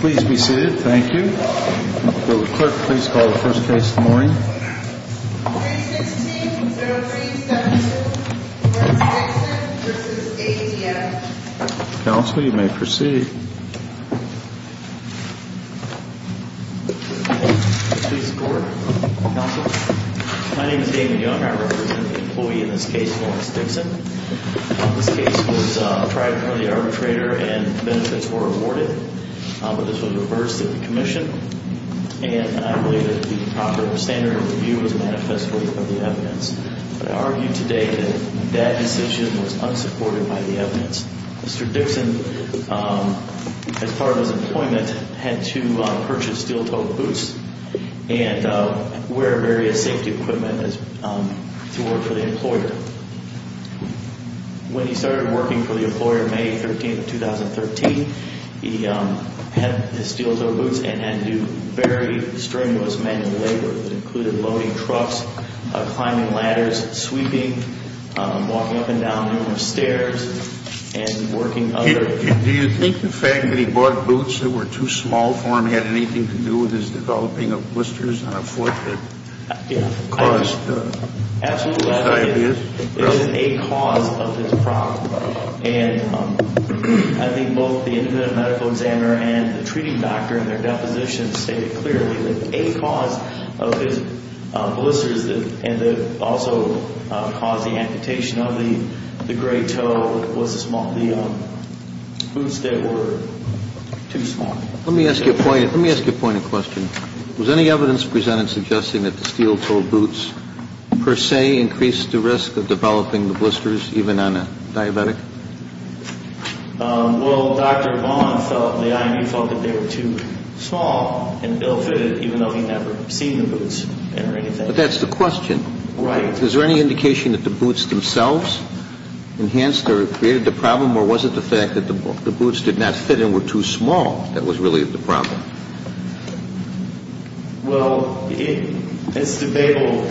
Please be seated. Thank you. Will the clerk please call the first case of the morning? 316-0372 Lawrence Dixon v. ADF Counsel, you may proceed. Please report, Counsel. My name is David Young. I represent the employee in this case, Lawrence Dixon. This case was a private money arbitrator and benefits were awarded. But this was reversed at the commission. And I believe that the proper standard of review was manifested for the evidence. But I argue today that that decision was unsupported by the evidence. Mr. Dixon, as part of his employment, had to purchase steel-toed boots and wear various safety equipment to work for the employer. When he started working for the employer May 13, 2013, he had to steal his own boots and had to do very strenuous manual labor that included loading trucks, climbing ladders, sweeping, walking up and down numerous stairs, and working other... Do you think the fact that he bought boots that were too small for him had anything to do with his developing of blisters on a foot that caused diabetes? Is it a cause of his problem? And I think both the independent medical examiner and the treating doctor in their depositions stated clearly that a cause of his blisters and that also caused the amputation of the gray toe was the boots that were too small. Let me ask you a point of question. Was any evidence presented suggesting that the steel-toed boots per se increased the risk of developing the blisters even on a diabetic? Well, Dr. Vaughn felt, the I.M.U. felt that they were too small and ill-fitted even though he never seen the boots or anything. But that's the question. Right. Is there any indication that the boots themselves enhanced or created the problem or was it the fact that the boots did not fit and were too small that was really the problem? Well, it's debatable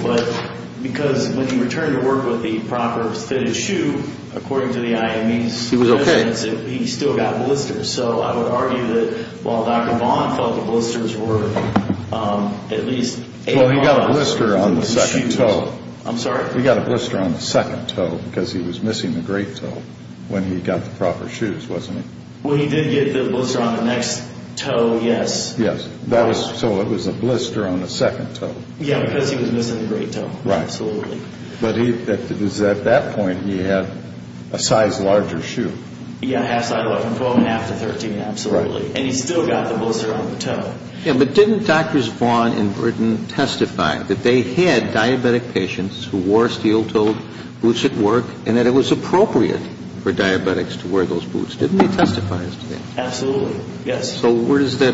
because when he returned to work with the proper fitted shoe, according to the I.M.U.'s... He was okay. ...he still got blisters. So I would argue that while Dr. Vaughn felt the blisters were at least... Well, he got a blister on the second toe. I'm sorry? He got a blister on the second toe because he was missing the great toe when he got the proper shoes, wasn't he? Well, he did get the blister on the next toe, yes. Yes. So it was a blister on the second toe. Yeah, because he was missing the great toe. Right. Absolutely. But at that point, he had a size larger shoe. Yeah, a half size larger, from 12.5 to 13, absolutely. Right. And he still got the blister on the toe. Yeah, but didn't Drs. Vaughn and Burton testify that they had diabetic patients who wore steel-toed boots at work, and that it was appropriate for diabetics to wear those boots? Didn't they testify as to that? Absolutely, yes. So where does that...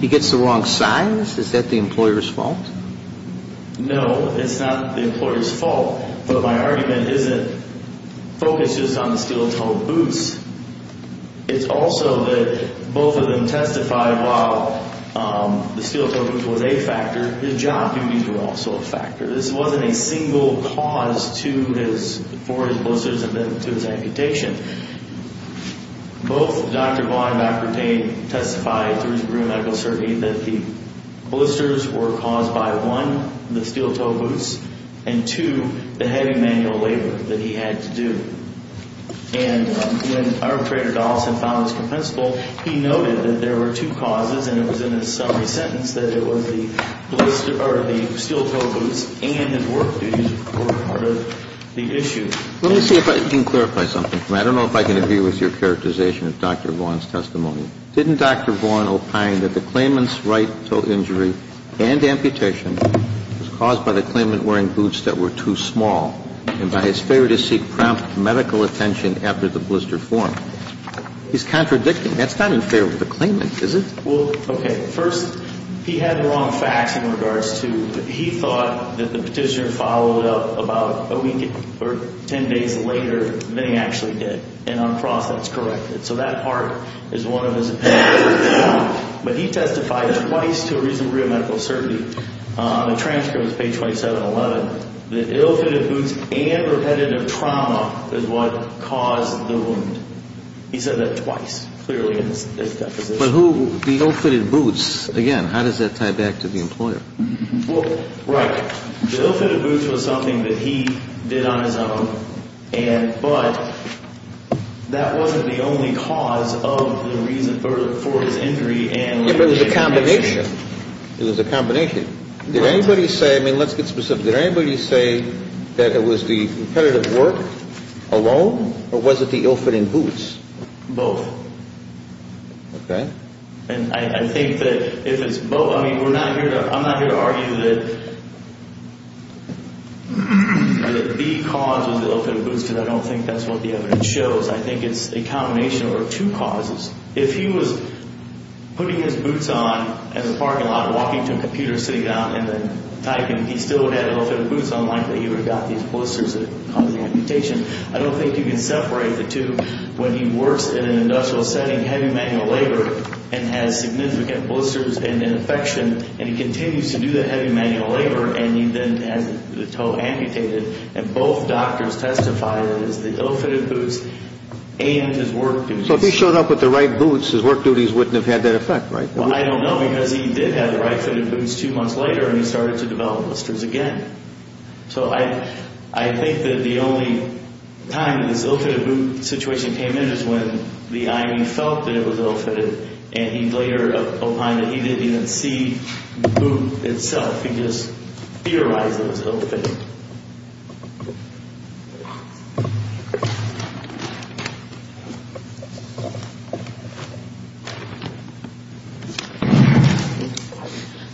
he gets the wrong size? Is that the employer's fault? No, it's not the employer's fault. But my argument isn't... focuses on the steel-toed boots. It's also that both of them testified while the steel-toed boots was a factor, his job duties were also a factor. This wasn't a single cause for his blisters and then to his amputation. Both Dr. Vaughn and Dr. Burton testified through his career medical circuit that the blisters were caused by, one, the steel-toed boots, and two, the heavy manual labor that he had to do. And when Arbitrator Dawson found this compensable, he noted that there were two causes, and it was in his summary sentence that it was the steel-toed boots and his work duties were part of the issue. Let me see if I can clarify something for you. I don't know if I can agree with your characterization of Dr. Vaughn's testimony. Didn't Dr. Vaughn opine that the claimant's right-toe injury and amputation was caused by the claimant wearing boots that were too small, and by his failure to seek prompt medical attention after the blister formed? He's contradicting. That's not unfair with the claimant, is it? Well, okay. First, he had wrong facts in regards to he thought that the petitioner followed up about a week or 10 days later than he actually did, and on cross that's corrected. So that part is one of his opinions. But he testified twice to a reasonable degree of medical certainty. The transcript was page 2711. The ill-fitted boots and repetitive trauma is what caused the wound. He said that twice, clearly in his deposition. But the ill-fitted boots, again, how does that tie back to the employer? Well, right. The ill-fitted boots was something that he did on his own, but that wasn't the only cause for his injury and amputation. It was a combination. It was a combination. Did anybody say, I mean, let's get specific. Did anybody say that it was the repetitive work alone, or was it the ill-fitting boots? Both. Okay. And I think that if it's both, I mean, I'm not here to argue that the cause was the ill-fitted boots because I don't think that's what the evidence shows. I think it's a combination or two causes. If he was putting his boots on in the parking lot, walking to a computer, sitting down, and then typing, he still would have ill-fitted boots. Unlikely he would have got these blisters that caused the amputation. I don't think you can separate the two. When he works in an industrial setting, heavy manual labor, and has significant blisters and infection, and he continues to do that heavy manual labor, and he then has the toe amputated, and both doctors testified that it was the ill-fitted boots and his work boots. So if he showed up with the right boots, his work duties wouldn't have had that effect, right? Well, I don't know because he did have the right-fitted boots two months later, and he started to develop blisters again. So I think that the only time this ill-fitted boot situation came in is when the IME felt that it was ill-fitted, and he later opined that he didn't even see the boot itself. He just theorized that it was ill-fitted.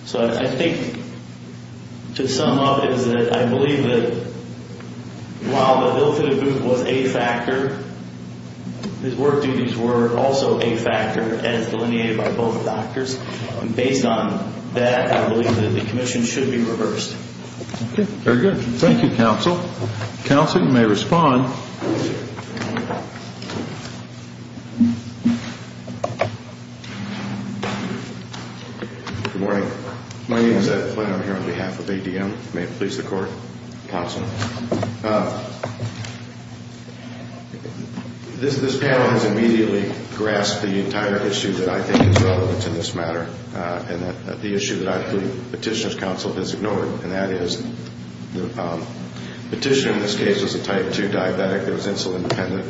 So I think to sum up is that I believe that while the ill-fitted boot was a factor, his work duties were also a factor as delineated by both doctors. Based on that, I believe that the commission should be reversed. Okay. Very good. Thank you, counsel. Counsel, you may respond. Good morning. My name is Ed Flynn. I'm here on behalf of ADM. May it please the Court. Counsel. This panel has immediately grasped the entire issue that I think is relevant in this matter, and the issue that I believe Petitioner's Counsel has ignored, and that is the petitioner in this case was a type 2 diabetic that was insulin dependent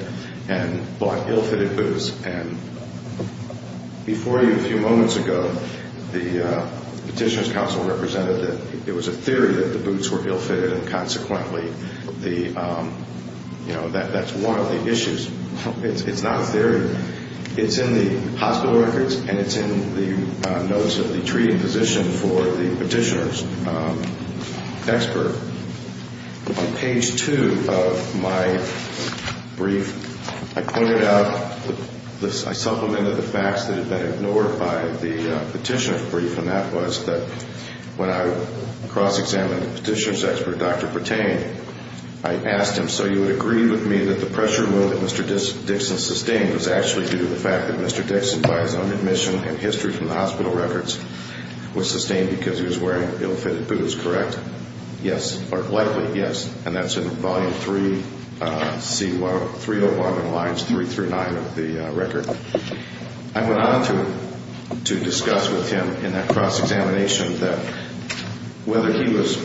and bought ill-fitted boots, and before you a few moments ago, the Petitioner's Counsel represented that it was a theory that the boots were ill-fitted, and consequently, you know, that's one of the issues. It's not a theory. It's in the hospital records, and it's in the notes of the treaty position for the petitioner's expert. On page 2 of my brief, I pointed out, I supplemented the facts that had been ignored by the petitioner's brief, and that was that when I cross-examined the petitioner's expert, Dr. Pertain, I asked him, so you would agree with me that the pressure that Mr. Dixon sustained was actually due to the fact that Mr. Dixon, by his own admission and history from the hospital records, was sustained because he was wearing ill-fitted boots, correct? Yes. Or likely, yes, and that's in Volume 3C, 301 and lines 3 through 9 of the record. I went on to discuss with him in that cross-examination that whether he was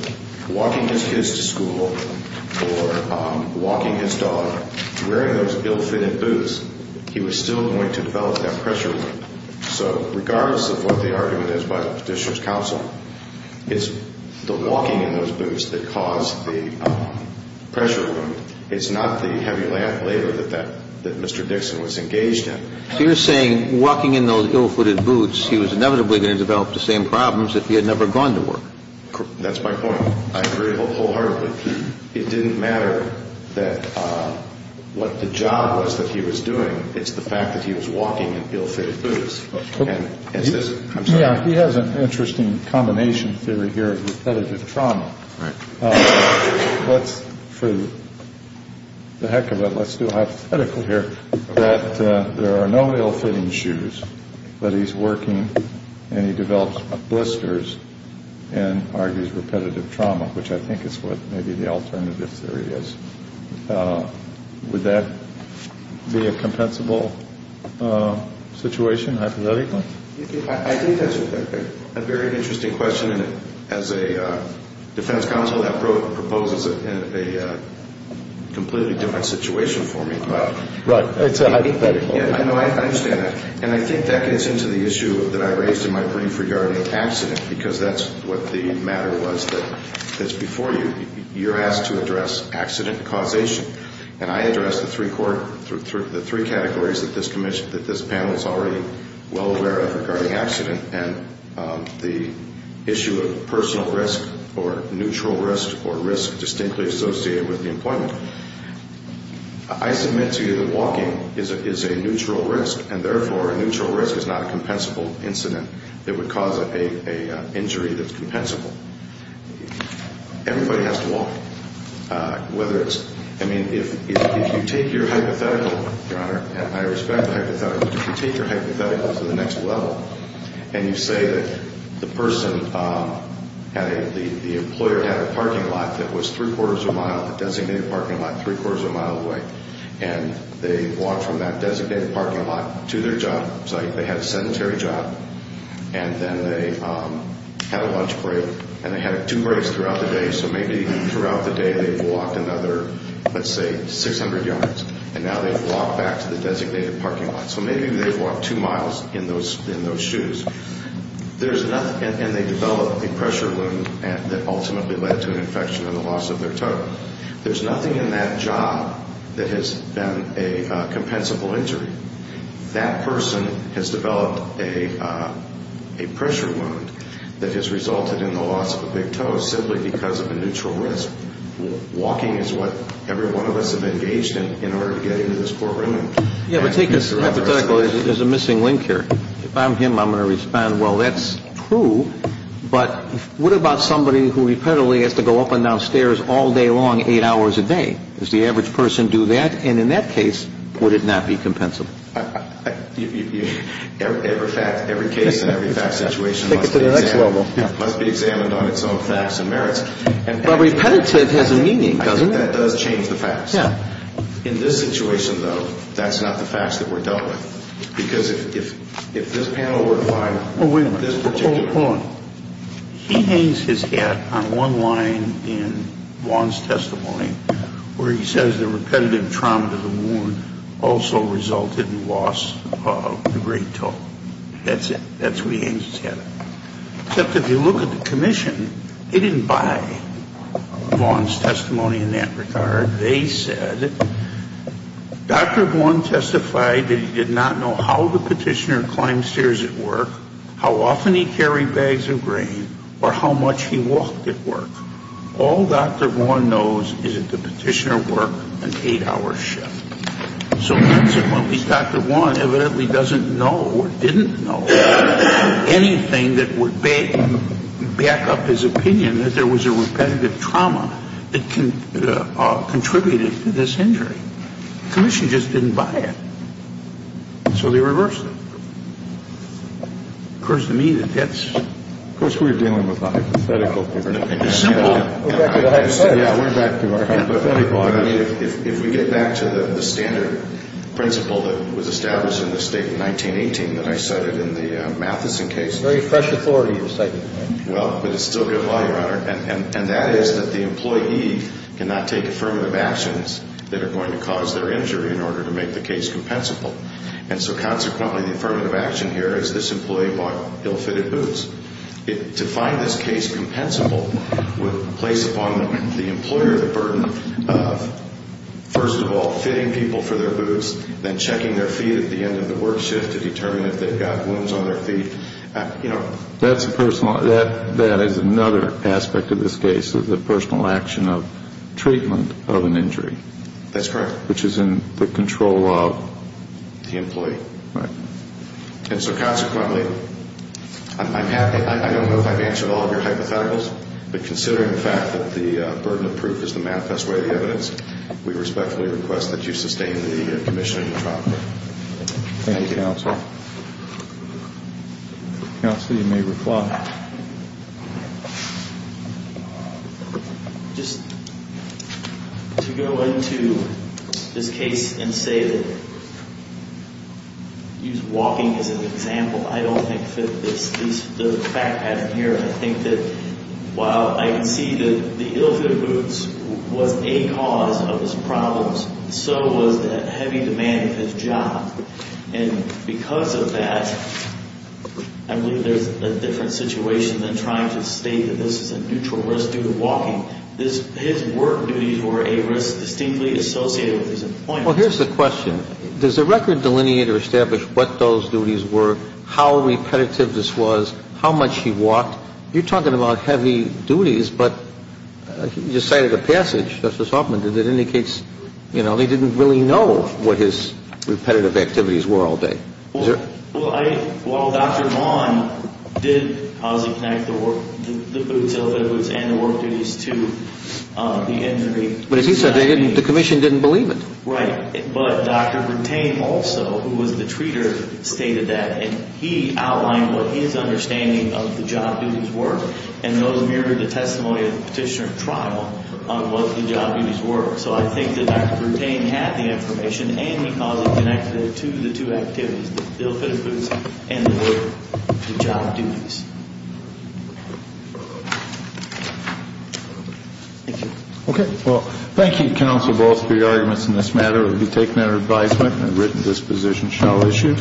walking his kids to school or walking his dog, wearing those ill-fitted boots, he was still going to develop that pressure wound. So regardless of what the argument is by the petitioner's counsel, it's the walking in those boots that caused the pressure wound. It's not the heavy labor that Mr. Dixon was engaged in. So you're saying walking in those ill-fitted boots, he was inevitably going to develop the same problems if he had never gone to work. That's my point. I agree wholeheartedly. It didn't matter what the job was that he was doing. It's the fact that he was walking in ill-fitted boots. He has an interesting combination theory here of repetitive trauma. For the heck of it, let's do a hypothetical here, that there are no ill-fitting shoes, but he's working and he develops blisters and argues repetitive trauma, which I think is what may be the alternative theory is. Would that be a compensable situation, hypothetically? I think that's a very interesting question. As a defense counsel, that proposes a completely different situation for me. Right. It's a hypothetical. I understand that. And I think that gets into the issue that I raised in my brief regarding accident, because that's what the matter was that's before you. You're asked to address accident causation, and I addressed the three categories that this panel is already well aware of regarding accident and the issue of personal risk or neutral risk or risk distinctly associated with the employment. I submit to you that walking is a neutral risk, and therefore a neutral risk is not a compensable incident that would cause an injury that's compensable. Everybody has to walk, whether it's – I mean, if you take your hypothetical, Your Honor, and I respect the hypothetical, but if you take your hypothetical to the next level and you say that the person had a – the employer had a parking lot that was three-quarters of a mile from the designated parking lot, three-quarters of a mile away, and they walked from that designated parking lot to their job site. They had a sedentary job, and then they had a lunch break, and they had two breaks throughout the day. So maybe throughout the day they walked another, let's say, 600 yards, and now they've walked back to the designated parking lot. So maybe they've walked two miles in those shoes. And they develop a pressure wound that ultimately led to an infection and the loss of their toe. There's nothing in that job that has been a compensable injury. That person has developed a pressure wound that has resulted in the loss of a big toe simply because of a neutral risk. Walking is what every one of us have engaged in in order to get into this courtroom. Yeah, but take this hypothetical. There's a missing link here. If I'm him, I'm going to respond, well, that's true, but what about somebody who repetitively has to go up and down stairs all day long eight hours a day? Does the average person do that? And in that case, would it not be compensable? Every fact, every case, and every fact situation must be examined. Take it to the next level. Must be examined on its own facts and merits. But repetitive has a meaning, doesn't it? That does change the facts. Yeah. In this situation, though, that's not the facts that we're dealt with. Because if this panel were to find this particular... Oh, wait a minute. Hold on. He hangs his hat on one line in Vaughan's testimony where he says the repetitive trauma to the wound also resulted in loss of the great toe. That's it. That's where he hangs his hat. Except if you look at the commission, they didn't buy Vaughan's testimony in that regard. They said, Dr. Vaughan testified that he did not know how the petitioner climbed stairs at work, how often he carried bags of grain, or how much he walked at work. All Dr. Vaughan knows is that the petitioner worked an eight-hour shift. So consequently, Dr. Vaughan evidently doesn't know or didn't know anything that would back up his opinion that there was a repetitive trauma that contributed to this injury. The commission just didn't buy it. So they reversed it. Of course, to me, that gets... Of course, we're dealing with hypothetical... We're back to the hypothetical. Yeah, we're back to our hypothetical. If we get back to the standard principle that was established in the State in 1918 that I cited in the Matheson case... Very fresh authority, you're citing. Well, but it's still good law, Your Honor. And that is that the employee cannot take affirmative actions that are going to cause their injury in order to make the case compensable. And so consequently, the affirmative action here is this employee bought ill-fitted boots. To find this case compensable would place upon the employer the burden of, first of all, fitting people for their boots, then checking their feet at the end of the work shift to determine if they've got wounds on their feet. You know, that's a personal... That is another aspect of this case, the personal action of treatment of an injury. That's correct. Which is in the control of... The employee. Right. And so consequently, I don't know if I've answered all of your hypotheticals, but considering the fact that the burden of proof is the manifest way of the evidence, we respectfully request that you sustain the commission in your trial. Thank you, counsel. Counsel, you may reply. Just to go into this case and say that... Use walking as an example. I don't think that this is the fact pattern here. I think that while I can see that the ill-fitted boots was a cause of his problems, so was the heavy demand of his job. And because of that, I believe there's a different situation than trying to state that this is a neutral risk due to walking. His work duties were a risk distinctly associated with his employment. Well, here's the question. Does the record delineate or establish what those duties were, how repetitive this was, how much he walked? You're talking about heavy duties, but you cited a passage, Justice Hoffman, that indicates they didn't really know what his repetitive activities were all day. Well, Dr. Vaughn did posit connect the boots, ill-fitted boots, and the work duties to the injury. But as he said, the commission didn't believe it. Right. But Dr. Bertain also, who was the treater, stated that. And he outlined what his understanding of the job duties were, and those mirrored the testimony of the petitioner at trial on what the job duties were. So I think that Dr. Bertain had the information, and he caused it connected to the two activities, the ill-fitted boots and the work duties. Thank you. Okay. Well, thank you, Counsel. Both of your arguments in this matter will be taken under advisement and written disposition shall issue.